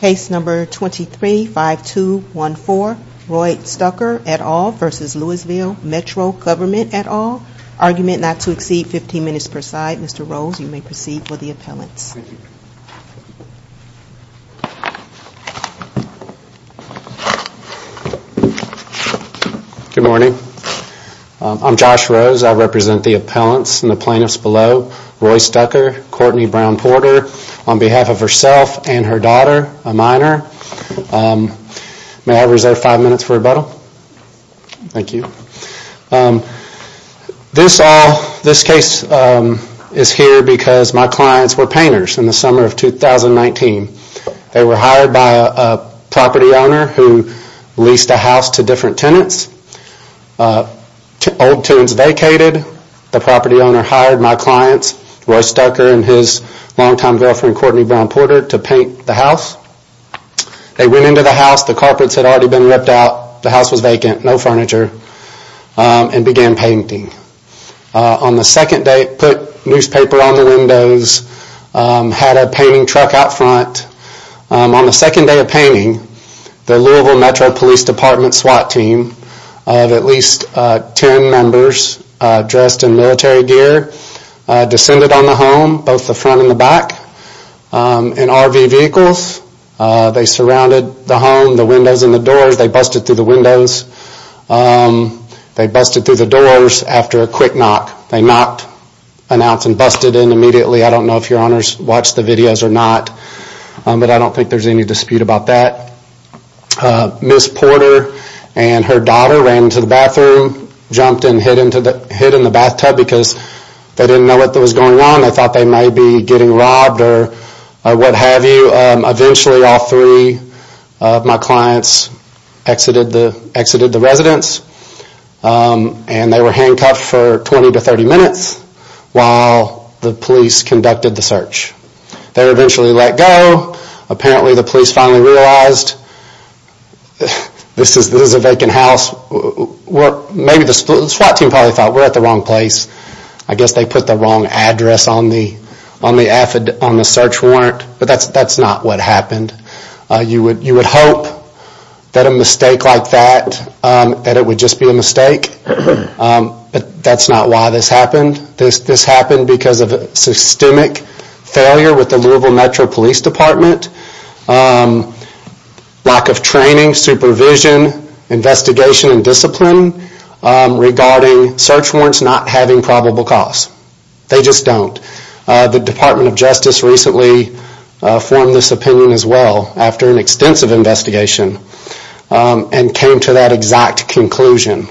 Case number 23-5214, Roy Stucker et al. v. Louisville Metro Government et al. Argument not to exceed 15 minutes per side. Mr. Rose, you may proceed for the appellants. Good morning. I'm Josh Rose. I represent the appellants and the plaintiffs below. Roy Stucker, Courtney Brown Porter, on behalf of herself and her daughter, a minor. May I reserve five minutes for rebuttal? Thank you. This case is here because my clients were painters in the summer of 2019. They were hired by a property owner who leased a house to different tenants. Old Towns vacated. The property owner hired my clients, Roy Stucker and his longtime girlfriend, Courtney Brown Porter, to paint the house. They went into the house. The carpets had already been ripped out. The house was vacant. No furniture. And began painting. On the second day, put newspaper on the windows, had a painting truck out front. On the second day of painting, the Louisville Metro Police Department SWAT team of at least 10 members dressed in military gear descended on the home, both the front and the back, in RV vehicles. They surrounded the home, the windows and the doors. They busted through the windows. They busted through the doors after a quick knock. They knocked an ounce and busted in immediately. I don't know if your honors watched the videos or not, but I don't think there's any dispute about that. Ms. Porter and her daughter ran to the bathroom, jumped and hid in the bathtub because they didn't know what was going on. They thought they might be getting robbed or what have you. Eventually, all three of my clients exited the residence. They were handcuffed for 20-30 minutes while the police conducted the search. They eventually let go. Apparently the police finally realized this is a vacant house. Maybe the SWAT team thought we were at the wrong place. I guess they put the wrong address on the search warrant, but that's not what happened. You would hope that a mistake like that would just be a mistake, but that's not why this happened. This happened because of systemic failure with the Louisville Metro Police Department. Lack of training, supervision, investigation and discipline regarding search warrants not having probable cause. They just don't. The Department of Justice recently formed this opinion as well after an extensive investigation and came to that exact conclusion.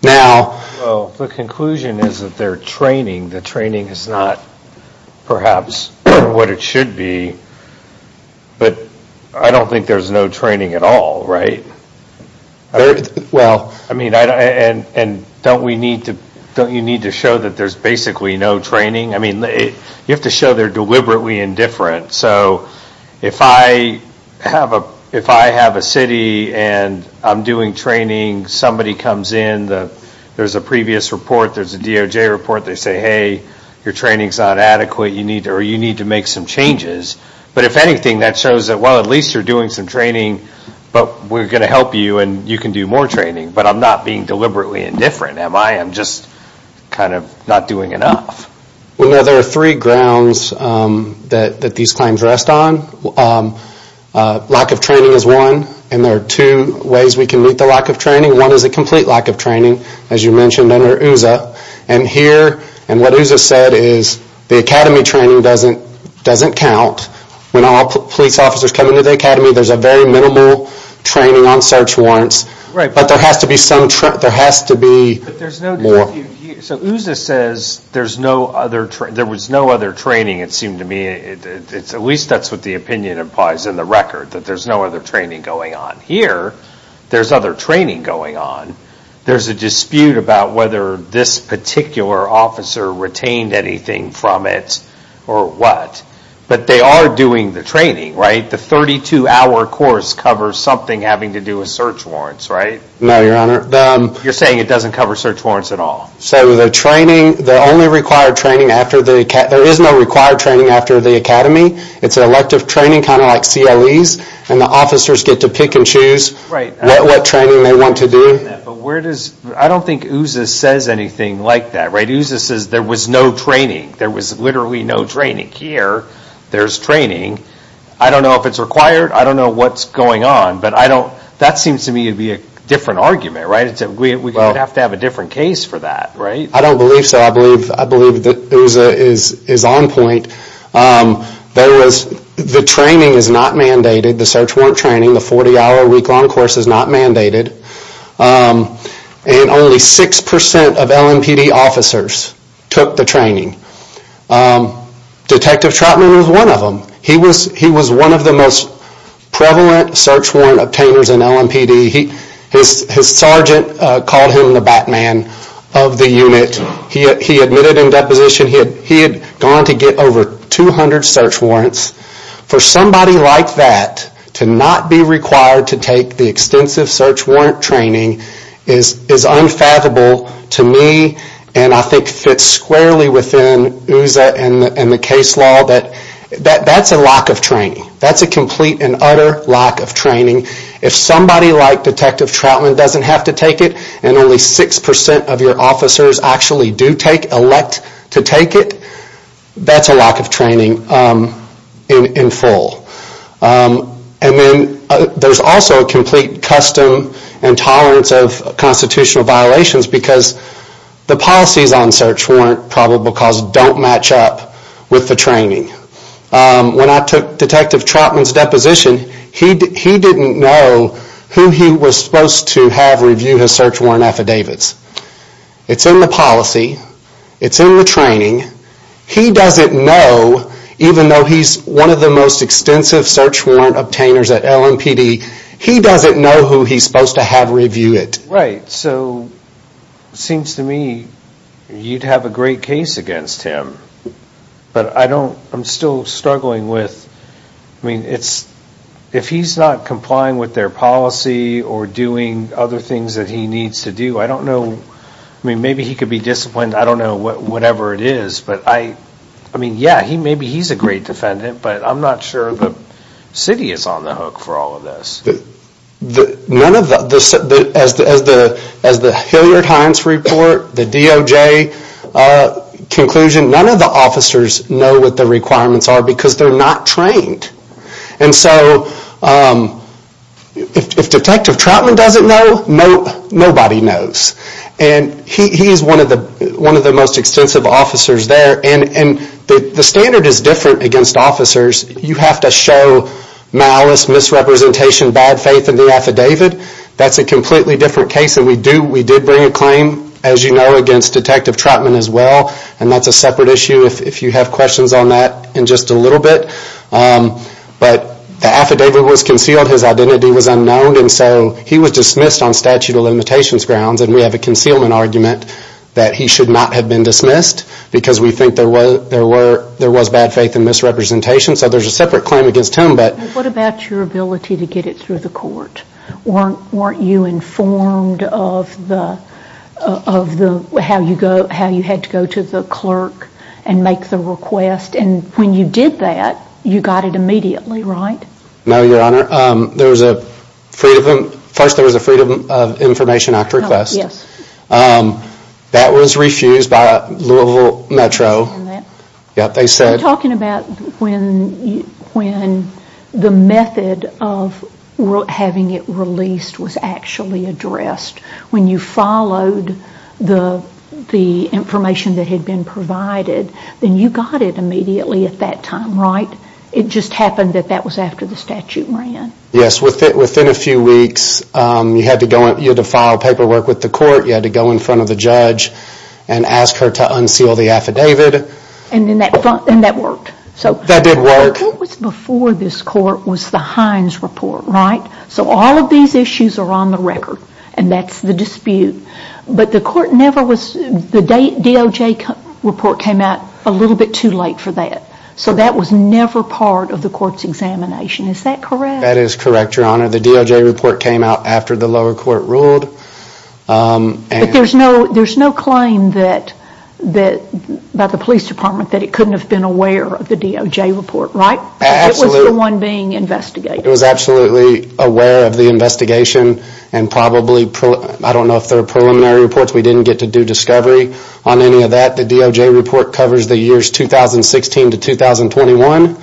The conclusion is that their training is not perhaps what it should be, but I don't think there's no training at all, right? Don't you need to show that there's basically no training? You have to show they're deliberately indifferent. If I have a city and I'm doing training, somebody comes in. There's a previous report. There's a DOJ report. They say, hey, your training is not adequate. You need to make some changes. But if anything, that shows that at least you're doing some training, but we're going to help you and you can do more training. But I'm not being deliberately indifferent, am I? I'm just kind of not doing enough. There are three grounds that these claims rest on. Lack of training is one, and there are two ways we can meet the lack of training. One is a complete lack of training, as you mentioned, under OOZA. And what OOZA said is the academy training doesn't count. When all police officers come into the academy, there's a very minimal training on search warrants. But there has to be more. So OOZA says there was no other training, it seemed to me. At least that's what the opinion implies in the record, that there's no other training going on. Here, there's other training going on. There's a dispute about whether this particular officer retained anything from it or what. But they are doing the training, right? The 32-hour course covers something having to do with search warrants, right? No, Your Honor. You're saying it doesn't cover search warrants at all? So the training, the only required training after the academy, there is no required training after the academy. It's elective training, kind of like CLEs. And the officers get to pick and choose what training they want to do. I don't think OOZA says anything like that, right? OOZA says there was no training. There was literally no training. Here, there's training. I don't know if it's required. I don't know what's going on. But that seems to me to be a different argument, right? We would have to have a different case for that, right? I don't believe so. I believe OOZA is on point. The training is not mandated, the search warrant training. The 40-hour week-long course is not mandated. And only 6% of LMPD officers took the training. Detective Troutman was one of them. He was one of the most prevalent search warrant obtainers in LMPD. His sergeant called him the Batman of the unit. He admitted in deposition he had gone to get over 200 search warrants. For somebody like that to not be required to take the extensive search warrant training is unfathomable to me and I think fits squarely within OOZA and the case law that that's a lack of training. That's a complete and utter lack of training. If somebody like Detective Troutman doesn't have to take it and only 6% of your officers actually do elect to take it, that's a lack of training in full. And then there's also a complete custom and tolerance of constitutional violations because the policies on search warrant probable cause don't match up with the training. When I took Detective Troutman's deposition, he didn't know who he was supposed to have review his search warrant affidavits. It's in the policy. It's in the training. He doesn't know, even though he's one of the most extensive search warrant obtainers at LMPD, he doesn't know who he's supposed to have review it. Right, so it seems to me you'd have a great case against him. But I don't, I'm still struggling with, I mean, it's, if he's not complying with their policy or doing other things that he needs to do, I don't know, I mean, maybe he could be disciplined. I don't know whatever it is. But I mean, yeah, maybe he's a great defendant, but I'm not sure the city is on the hook for all of this. None of the, as the Hilliard-Hines report, the DOJ conclusion, none of the officers know what the requirements are because they're not trained. And so if Detective Troutman doesn't know, nobody knows. And he's one of the most extensive officers there. And the standard is different against officers. You have to show malice, misrepresentation, bad faith in the affidavit. That's a completely different case than we do. We did bring a claim, as you know, against Detective Troutman as well. And that's a separate issue if you have questions on that in just a little bit. But the affidavit was concealed. His identity was unknown. And so he was dismissed on statute of limitations grounds. And we have a concealment argument that he should not have been dismissed because we think there was bad faith and misrepresentation. So there's a separate claim against him. But what about your ability to get it through the court? Weren't you informed of how you had to go to the clerk and make the request? And when you did that, you got it immediately, right? No, Your Honor. First there was a Freedom of Information Act request. Yes. That was refused by Louisville Metro. I understand that. You're talking about when the method of having it released was actually addressed. When you followed the information that had been provided, then you got it immediately at that time, right? It just happened that that was after the statute ran. Yes. Within a few weeks, you had to file paperwork with the court. You had to go in front of the judge and ask her to unseal the affidavit. And that worked. That did work. What was before this court was the Heinz report, right? So all of these issues are on the record, and that's the dispute. But the court never was—the DOJ report came out a little bit too late for that. So that was never part of the court's examination. Is that correct? That is correct, Your Honor. The DOJ report came out after the lower court ruled. But there's no claim by the police department that it couldn't have been aware of the DOJ report, right? It was the one being investigated. It was absolutely aware of the investigation, and probably—I don't know if there are preliminary reports. We didn't get to do discovery on any of that. The DOJ report covers the years 2016 to 2021,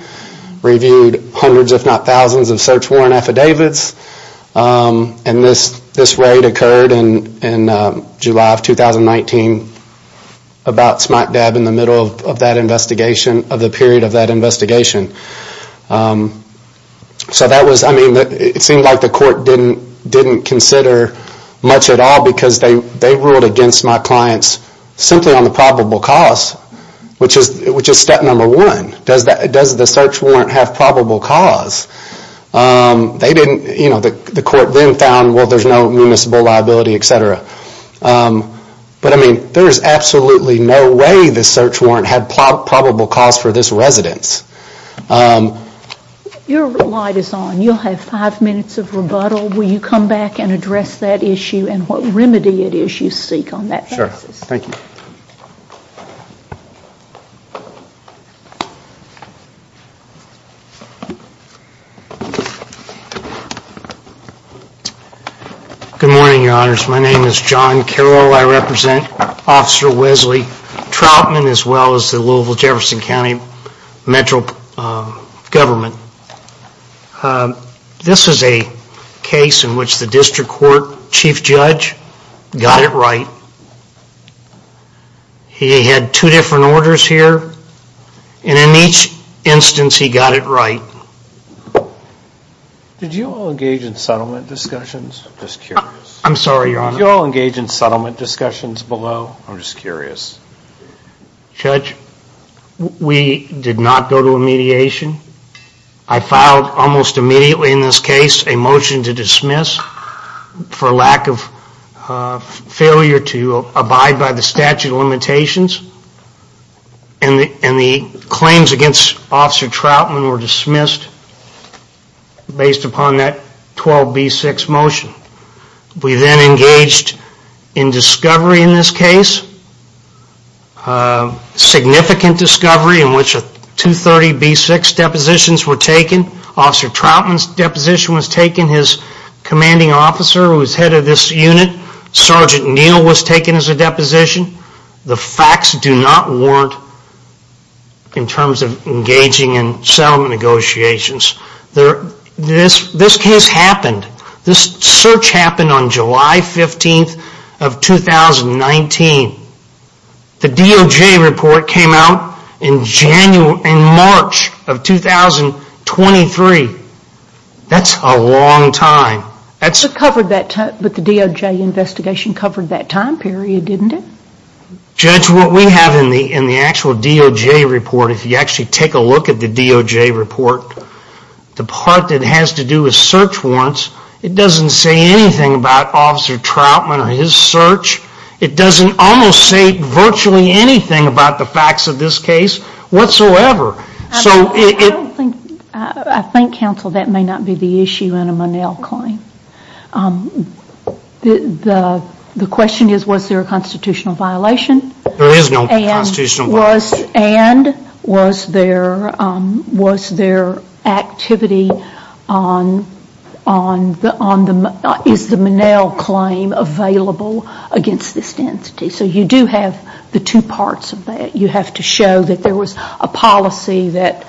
reviewed hundreds, if not thousands, of search warrant affidavits. And this raid occurred in July of 2019 about smack dab in the middle of that investigation, of the period of that investigation. So that was—I mean, it seemed like the court didn't consider much at all because they ruled against my clients simply on the probable cause, which is step number one. Does the search warrant have probable cause? They didn't—you know, the court then found, well, there's no municipal liability, et cetera. But, I mean, there is absolutely no way the search warrant had probable cause for this residence. Your light is on. You'll have five minutes of rebuttal. Will you come back and address that issue and what remedy it is you seek on that basis? Sure. Thank you. Good morning, Your Honors. My name is John Carroll. I represent Officer Wesley Troutman as well as the Louisville-Jefferson County Metro government. This is a case in which the district court chief judge got it right. He had two different orders here, and in each instance he got it right. Did you all engage in settlement discussions? I'm just curious. I'm sorry, Your Honor. Did you all engage in settlement discussions below? I'm just curious. Judge, we did not go to a mediation. I filed almost immediately in this case a motion to dismiss for lack of failure to abide by the statute of limitations, and the claims against Officer Troutman were dismissed based upon that 12B6 motion. We then engaged in discovery in this case, significant discovery in which 230B6 depositions were taken. Officer Troutman's deposition was taken. His commanding officer, who is head of this unit, Sergeant Neal, was taken as a deposition. The facts do not warrant in terms of engaging in settlement negotiations. This case happened. This search happened on July 15th of 2019. The DOJ report came out in March of 2023. That's a long time. But the DOJ investigation covered that time period, didn't it? Judge, what we have in the actual DOJ report, if you actually take a look at the DOJ report, the part that has to do with search warrants, it doesn't say anything about Officer Troutman or his search. It doesn't almost say virtually anything about the facts of this case whatsoever. I think, counsel, that may not be the issue in a Monell claim. The question is, was there a constitutional violation? There is no constitutional violation. And was there activity on the Monell claim available against this entity? So you do have the two parts of that. You have to show that there was a policy that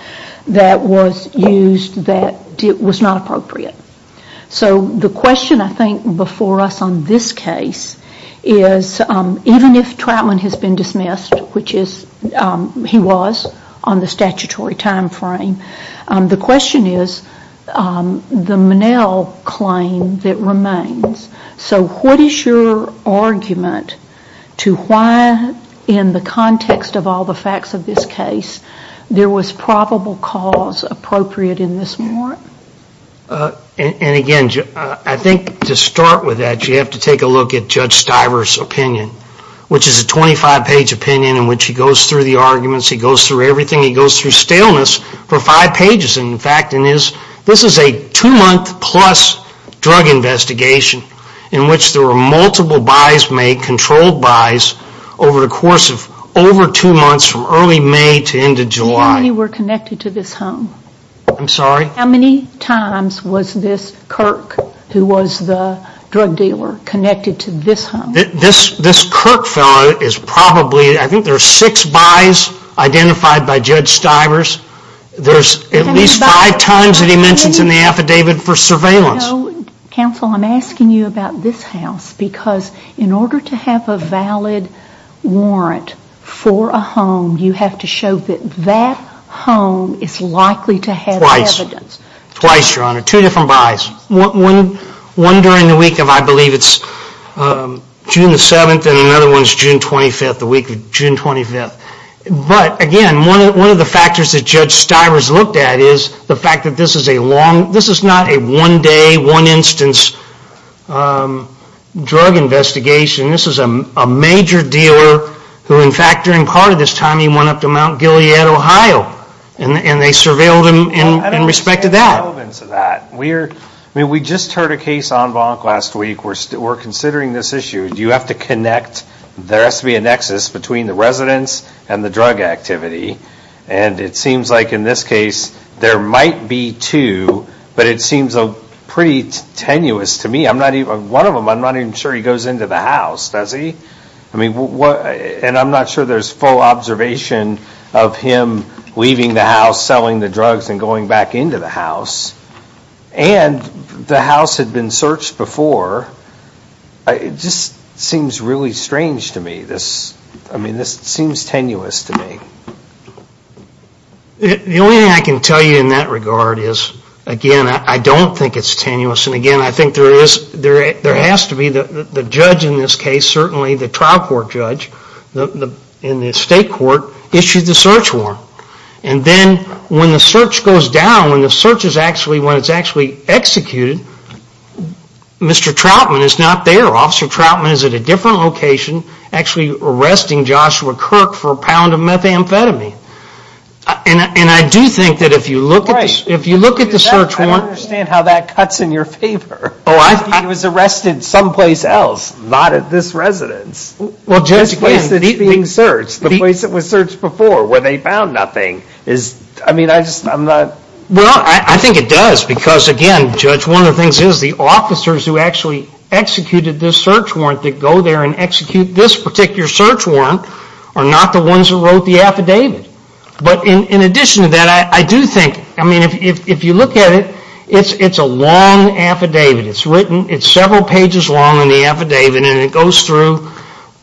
was used that was not appropriate. So the question, I think, before us on this case, is even if Troutman has been dismissed, which he was on the statutory time frame, the question is the Monell claim that remains. So what is your argument to why, in the context of all the facts of this case, there was probable cause appropriate in this warrant? And again, I think to start with that, you have to take a look at Judge Stiver's opinion, which is a 25-page opinion in which he goes through the arguments. He goes through everything. He goes through staleness for five pages. In fact, this is a two-month-plus drug investigation in which there were multiple buys made, controlled buys, over the course of over two months from early May to end of July. How many were connected to this home? I'm sorry? How many times was this Kirk, who was the drug dealer, connected to this home? This Kirk fellow is probably, I think there are six buys identified by Judge Stiver's. There's at least five times that he mentions in the affidavit for surveillance. Counsel, I'm asking you about this house because in order to have a valid warrant for a home, you have to show that that home is likely to have evidence. Twice, Your Honor. Two different buys. One during the week of, I believe it's June 7th, and another one is June 25th, the week of June 25th. But again, one of the factors that Judge Stiver's looked at is the fact that this is not a one-day, one-instance drug investigation. This is a major dealer who, in fact, during part of this time, he went up to Mount Gilead, Ohio, and they surveilled him in respect to that. I don't see the relevance of that. I mean, we just heard a case on Bonk last week. We're considering this issue. You have to connect. There has to be a nexus between the residence and the drug activity, and it seems like in this case there might be two, but it seems pretty tenuous to me. One of them, I'm not even sure he goes into the house, does he? And I'm not sure there's full observation of him leaving the house, selling the drugs, and going back into the house. And the house had been searched before. It just seems really strange to me. I mean, this seems tenuous to me. The only thing I can tell you in that regard is, again, I don't think it's tenuous, and again, I think there has to be the judge in this case, and certainly the trial court judge in the state court issued the search warrant. And then when the search goes down, when the search is actually executed, Mr. Troutman is not there. Officer Troutman is at a different location, actually arresting Joshua Kirk for a pound of methamphetamine. And I do think that if you look at the search warrant. I don't understand how that cuts in your favor. He was arrested someplace else, not at this residence. The place that's being searched, the place that was searched before, where they found nothing. Well, I think it does, because again, Judge, one of the things is the officers who actually executed this search warrant that go there and execute this particular search warrant are not the ones who wrote the affidavit. But in addition to that, I do think, if you look at it, it's a long affidavit. It's written, it's several pages long in the affidavit, and it goes through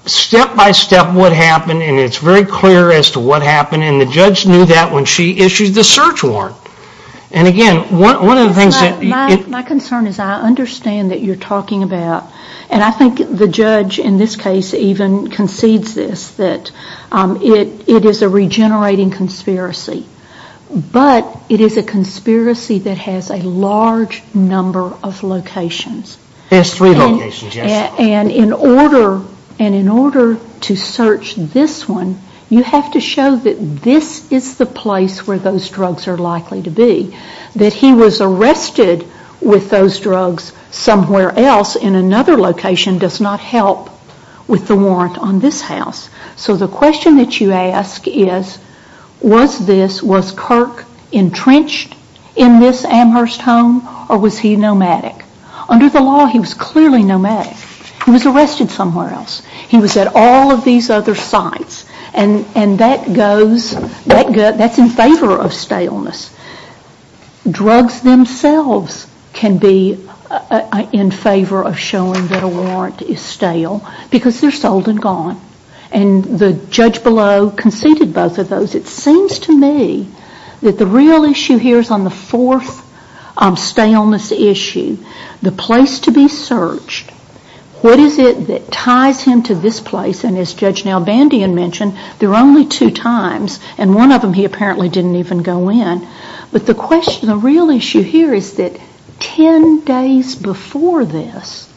step by step what happened, and it's very clear as to what happened, and the judge knew that when she issued the search warrant. And again, one of the things that... My concern is I understand that you're talking about, and I think the judge in this case even concedes this, that it is a regenerating conspiracy. But it is a conspiracy that has a large number of locations. There's three locations, yes. And in order to search this one, you have to show that this is the place where those drugs are likely to be. That he was arrested with those drugs somewhere else in another location does not help with the warrant on this house. So the question that you ask is, was this, was Kirk entrenched in this Amherst home, or was he nomadic? Under the law, he was clearly nomadic. He was arrested somewhere else. He was at all of these other sites, and that goes, that's in favor of staleness. Drugs themselves can be in favor of showing that a warrant is stale, because they're sold and gone. And the judge below conceded both of those. It seems to me that the real issue here is on the fourth staleness issue, the place to be searched. What is it that ties him to this place? And as Judge Nalbandian mentioned, there are only two times, and one of them he apparently didn't even go in. But the question, the real issue here is that 10 days before this,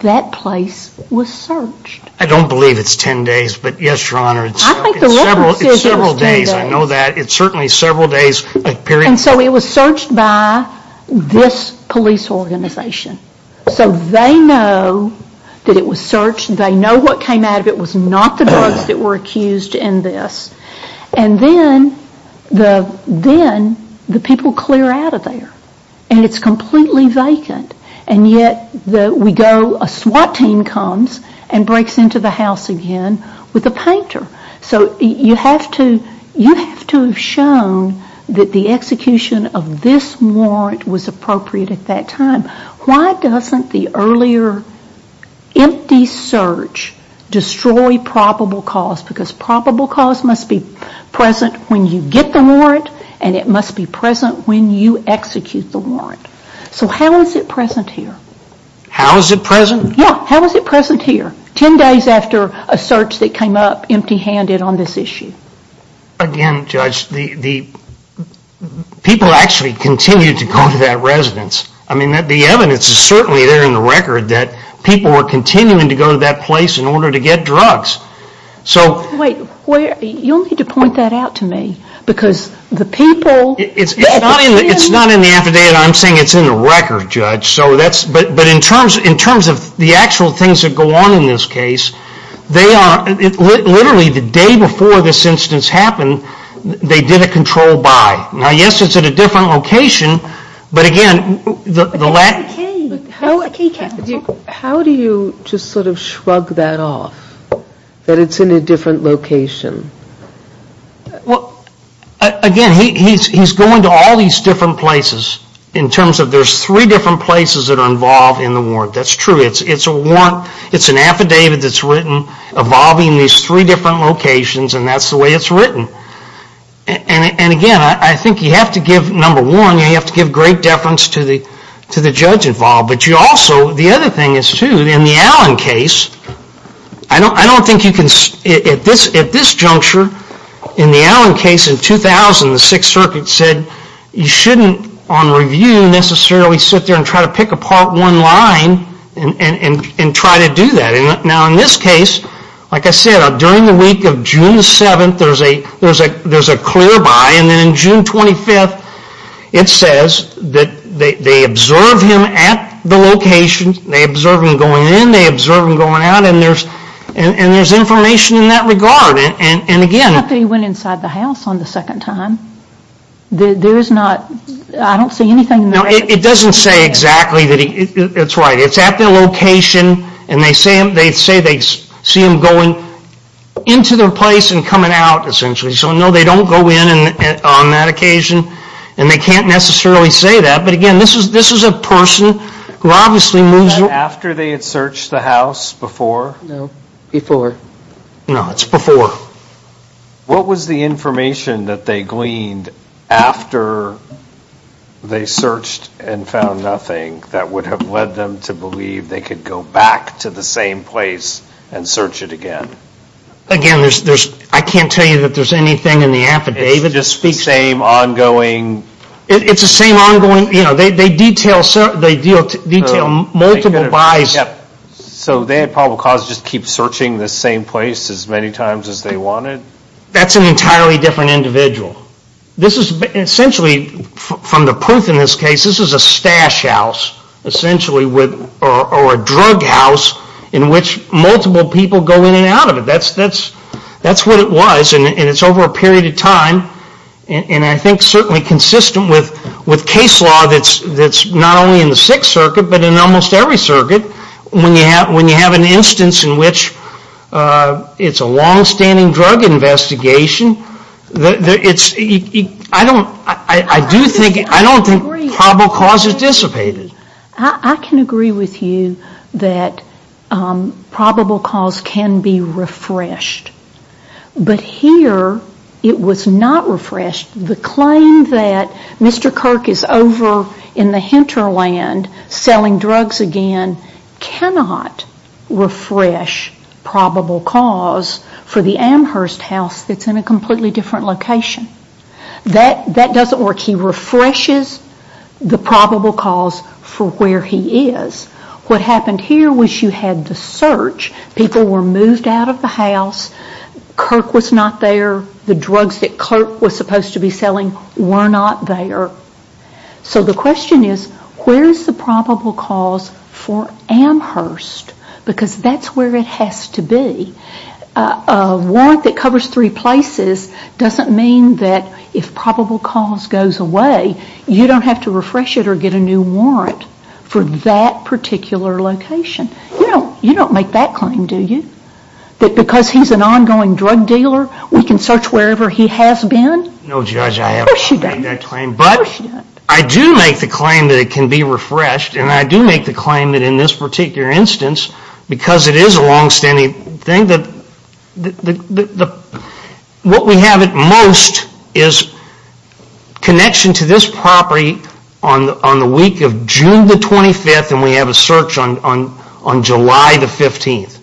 that place was searched. I don't believe it's 10 days, but yes, Your Honor, it's several days. I know that. It's certainly several days. And so it was searched by this police organization. So they know that it was searched. They know what came out of it was not the drugs that were accused in this. And then the people clear out of there. And it's completely vacant. And yet we go, a SWAT team comes and breaks into the house again with a painter. So you have to have shown that the execution of this warrant was appropriate at that time. Why doesn't the earlier empty search destroy probable cause? Because probable cause must be present when you get the warrant, and it must be present when you execute the warrant. So how is it present here? How is it present? Yeah, how is it present here? 10 days after a search that came up empty-handed on this issue. Again, Judge, the people actually continued to go to that residence. I mean, the evidence is certainly there in the record that people were continuing to go to that place in order to get drugs. Wait, you'll need to point that out to me, because the people It's not in the affidavit. I'm saying it's in the record, Judge. But in terms of the actual things that go on in this case, literally the day before this instance happened, they did a control buy. Now, yes, it's at a different location, but again, the last How do you just sort of shrug that off, that it's in a different location? Well, again, he's going to all these different places in terms of there's three different places that are involved in the warrant. That's true. It's a warrant. It's an affidavit that's written involving these three different locations, and that's the way it's written. And again, I think you have to give, number one, you have to give great deference to the judge involved. But you also, the other thing is, too, in the Allen case, I don't think you can, at this juncture, in the Allen case in 2000, the Sixth Circuit said you shouldn't, on review, necessarily sit there and try to pick apart one line and try to do that. Now, in this case, like I said, during the week of June 7th, there's a clear buy, and then on June 25th, it says that they observe him at the location, they observe him going in, they observe him going out, and there's information in that regard. Not that he went inside the house on the second time. There is not, I don't see anything in the record. No, it doesn't say exactly that he, it's right. It's at the location, and they say they see him going into their place and coming out, essentially. So, no, they don't go in on that occasion, and they can't necessarily say that. But, again, this is a person who obviously moves... Is that after they had searched the house before? No, before. No, it's before. What was the information that they gleaned after they searched and found nothing that would have led them to believe they could go back to the same place and search it again? Again, I can't tell you that there's anything in the affidavit. It's the same ongoing... It's the same ongoing, you know, they detail multiple buys. So they had probable cause to just keep searching the same place as many times as they wanted? That's an entirely different individual. This is essentially, from the proof in this case, this is a stash house, essentially, or a drug house in which multiple people go in and out of it. That's what it was, and it's over a period of time, and I think certainly consistent with case law that's not only in the Sixth Circuit but in almost every circuit. When you have an instance in which it's a long-standing drug investigation, I don't think probable cause is dissipated. I can agree with you that probable cause can be refreshed, but here it was not refreshed. The claim that Mr. Kirk is over in the hinterland selling drugs again cannot refresh probable cause for the Amherst house that's in a completely different location. That doesn't work. He refreshes the probable cause for where he is. What happened here was you had the search. People were moved out of the house. Kirk was not there. The drugs that Kirk was supposed to be selling were not there. So the question is where is the probable cause for Amherst because that's where it has to be. A warrant that covers three places doesn't mean that if probable cause goes away, you don't have to refresh it or get a new warrant for that particular location. You don't make that claim, do you? That because he's an ongoing drug dealer, we can search wherever he has been? No, Judge, I have not made that claim. But I do make the claim that it can be refreshed, and I do make the claim that in this particular instance, because it is a long-standing thing, what we have at most is connection to this property on the week of June 25th and we have a search on July the 15th.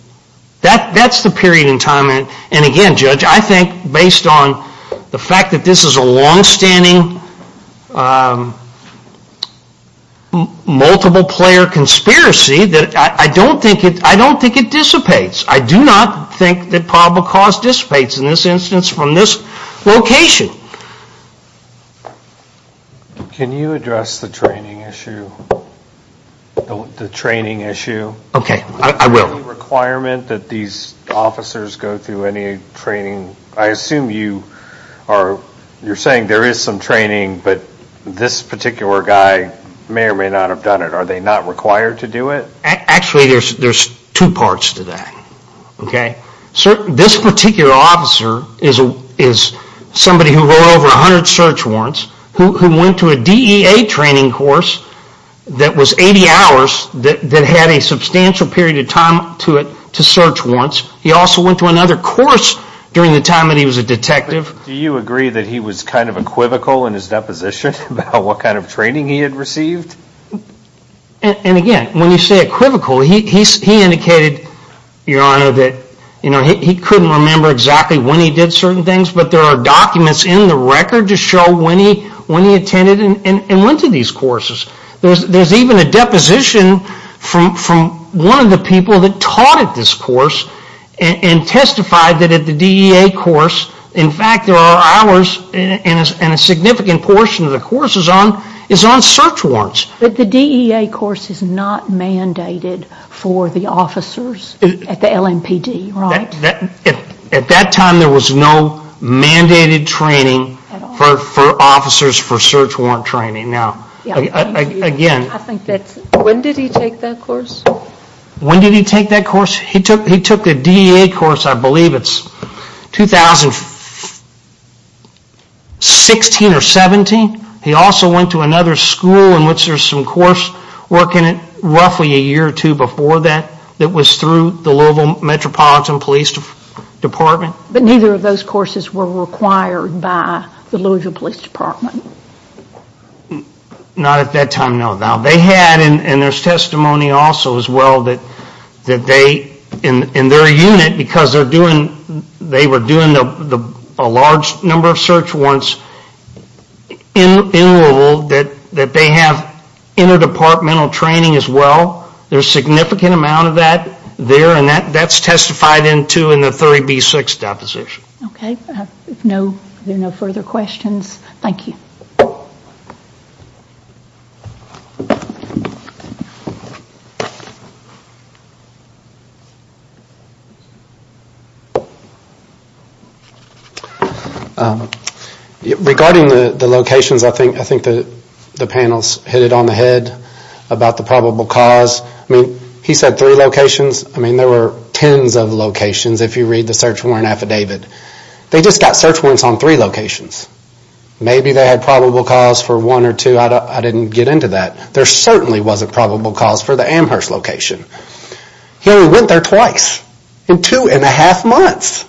That's the period in time. And again, Judge, I think based on the fact that this is a long-standing, multiple-player conspiracy, I don't think it dissipates. I do not think that probable cause dissipates in this instance from this location. Can you address the training issue? Okay, I will. Is there any requirement that these officers go through any training? I assume you're saying there is some training, but this particular guy may or may not have done it. Are they not required to do it? Actually, there's two parts to that. This particular officer is somebody who wrote over 100 search warrants, who went to a DEA training course that was 80 hours, that had a substantial period of time to it to search warrants. He also went to another course during the time that he was a detective. Do you agree that he was kind of equivocal in his deposition about what kind of training he had received? And again, when you say equivocal, he indicated, Your Honor, that he couldn't remember exactly when he did certain things, but there are documents in the record to show when he attended and went to these courses. There's even a deposition from one of the people that taught at this course and testified that at the DEA course, in fact there are hours and a significant portion of the course is on search warrants. But the DEA course is not mandated for the officers at the LMPD, right? At that time, there was no mandated training for officers for search warrant training. Again... When did he take that course? When did he take that course? He took the DEA course, I believe it's 2016 or 17. He also went to another school in which there's some course working roughly a year or two before that that was through the Louisville Metropolitan Police Department. But neither of those courses were required by the Louisville Police Department? Not at that time, no. They had, and there's testimony also as well, that they, in their unit, because they were doing a large number of search warrants in Louisville, that they have interdepartmental training as well. There's a significant amount of that there and that's testified into in the 30B6 deposition. Okay, if there are no further questions, thank you. Regarding the locations, I think the panel's hit it on the head about the probable cause. He said three locations. There were tens of locations if you read the search warrant affidavit. They just got search warrants on three locations. Maybe they had probable cause for one or two, I didn't get into that. There certainly wasn't probable cause for the Amherst location. He only went there twice in two and a half months.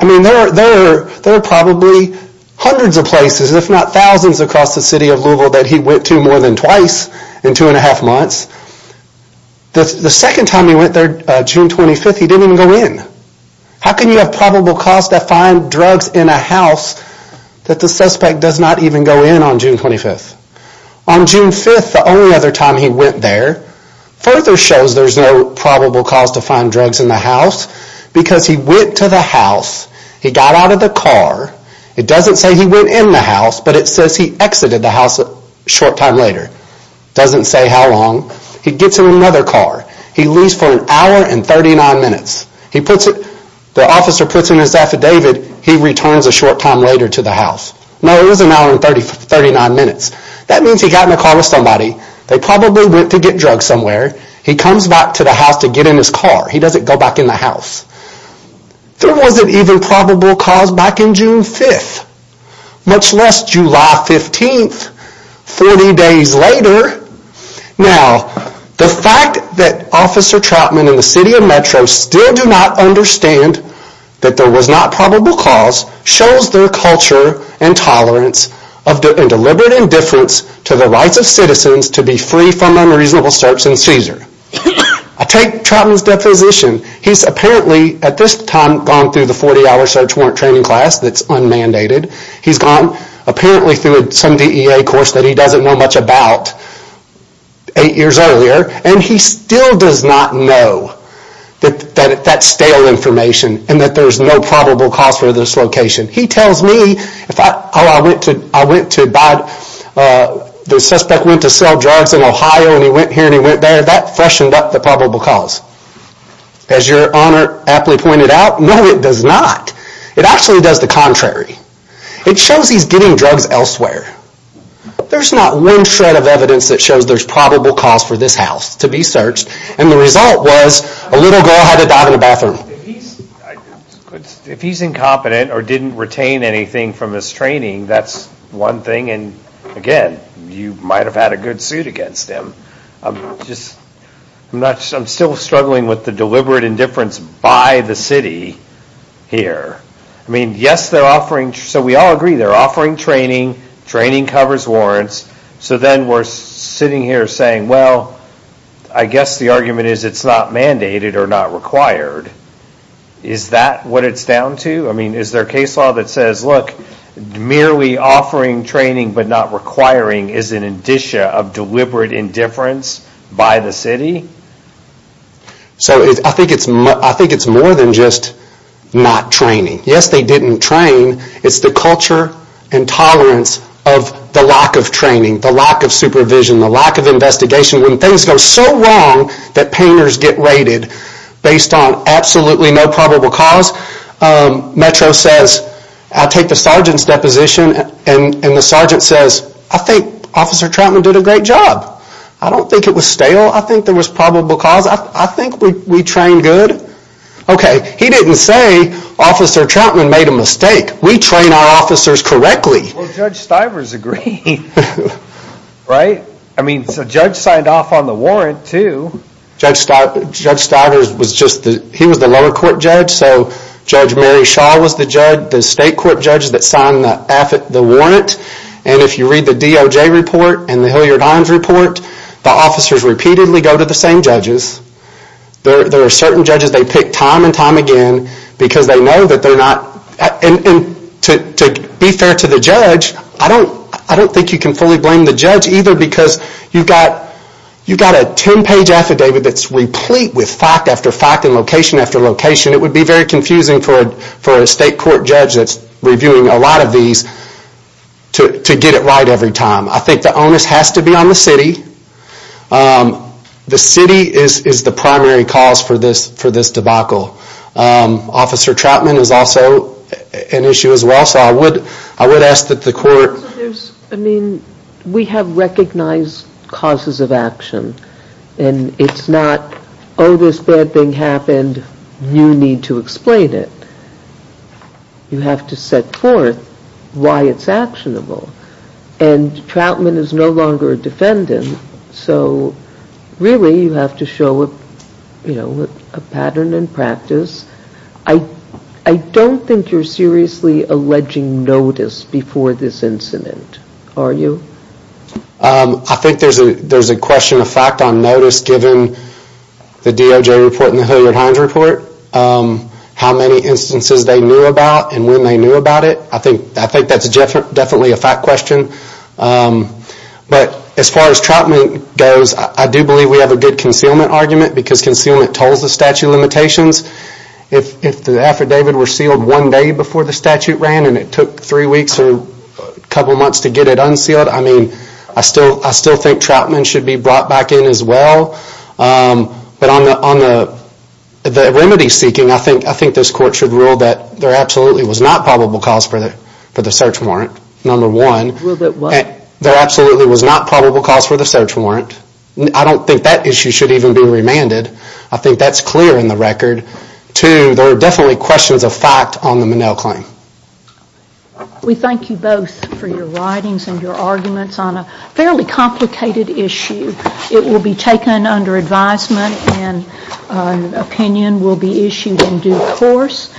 I mean, there are probably hundreds of places, if not thousands, across the city of Louisville that he went to more than twice in two and a half months. The second time he went there, June 25th, he didn't even go in. How can you have probable cause to find drugs in a house that the suspect does not even go in on June 25th? On June 5th, the only other time he went there, further shows there's no probable cause to find drugs in the house because he went to the house, he got out of the car. It doesn't say he went in the house, but it says he exited the house a short time later. Doesn't say how long. He gets in another car. He leaves for an hour and 39 minutes. The officer puts in his affidavit, he returns a short time later to the house. No, it was an hour and 39 minutes. That means he got in a car with somebody. They probably went to get drugs somewhere. He comes back to the house to get in his car. He doesn't go back in the house. There wasn't even probable cause back in June 5th, much less July 15th, 40 days later. Now, the fact that Officer Trautman and the city of Metro still do not understand that there was not probable cause shows their culture and tolerance and deliberate indifference to the rights of citizens to be free from unreasonable search in CSER. I take Trautman's deposition. He's apparently at this time gone through the 40-hour search warrant training class that's unmandated. He's gone apparently through some DEA course that he doesn't know much about eight years earlier, and he still does not know that that's stale information and that there's no probable cause for this location. He tells me, I went to buy, the suspect went to sell drugs in Ohio, and he went here and he went there. That freshened up the probable cause. As your Honor aptly pointed out, no, it does not. It actually does the contrary. It shows he's getting drugs elsewhere. There's not one shred of evidence that shows there's probable cause for this house to be searched, and the result was a little girl had it down in the bathroom. If he's incompetent or didn't retain anything from his training, that's one thing, and again, you might have had a good suit against him. I'm still struggling with the deliberate indifference by the city here. I mean, yes, they're offering, so we all agree, they're offering training, training covers warrants, so then we're sitting here saying, well, I guess the argument is it's not mandated or not required. Is that what it's down to? I mean, is there a case law that says, look, merely offering training but not requiring is an indicia of deliberate indifference by the city? So I think it's more than just not training. Yes, they didn't train. It's the culture and tolerance of the lack of training, the lack of supervision, the lack of investigation. When things go so wrong that painters get raided based on absolutely no probable cause, Metro says, I take the sergeant's deposition, and the sergeant says, I think Officer Troutman did a great job. I don't think it was stale. I think there was probable cause. I think we trained good. Okay, he didn't say Officer Troutman made a mistake. We train our officers correctly. Well, Judge Stivers agreed, right? I mean, the judge signed off on the warrant, too. Judge Stivers was just the lower court judge. So Judge Mary Shaw was the state court judge that signed the warrant. And if you read the DOJ report and the Hilliard-Hines report, the officers repeatedly go to the same judges. There are certain judges they pick time and time again because they know that they're not... And to be fair to the judge, I don't think you can fully blame the judge either because you've got a 10-page affidavit that's replete with fact after fact and location after location. It would be very confusing for a state court judge that's reviewing a lot of these to get it right every time. I think the onus has to be on the city. The city is the primary cause for this debacle. Officer Troutman is also an issue as well. So I would ask that the court... I mean, we have recognized causes of action. And it's not, oh, this bad thing happened, you need to explain it. You have to set forth why it's actionable. And Troutman is no longer a defendant. So really you have to show a pattern in practice. I don't think you're seriously alleging notice before this incident, are you? I think there's a question of fact on notice given the DOJ report and the Hilliard-Hines report, how many instances they knew about and when they knew about it. I think that's definitely a fact question. But as far as Troutman goes, I do believe we have a good concealment argument because concealment tolls the statute limitations. If the affidavit were sealed one day before the statute ran and it took three weeks or a couple of months to get it unsealed, I mean, I still think Troutman should be brought back in as well. But on the remedy seeking, I think this court should rule that there absolutely was not probable cause for the search warrant, number one. Rule that what? There absolutely was not probable cause for the search warrant. I don't think that issue should even be remanded. I think that's clear in the record. Two, there are definitely questions of fact on the Minnell claim. We thank you both for your writings and your arguments on a fairly complicated issue. It will be taken under advisement and an opinion will be issued in due course.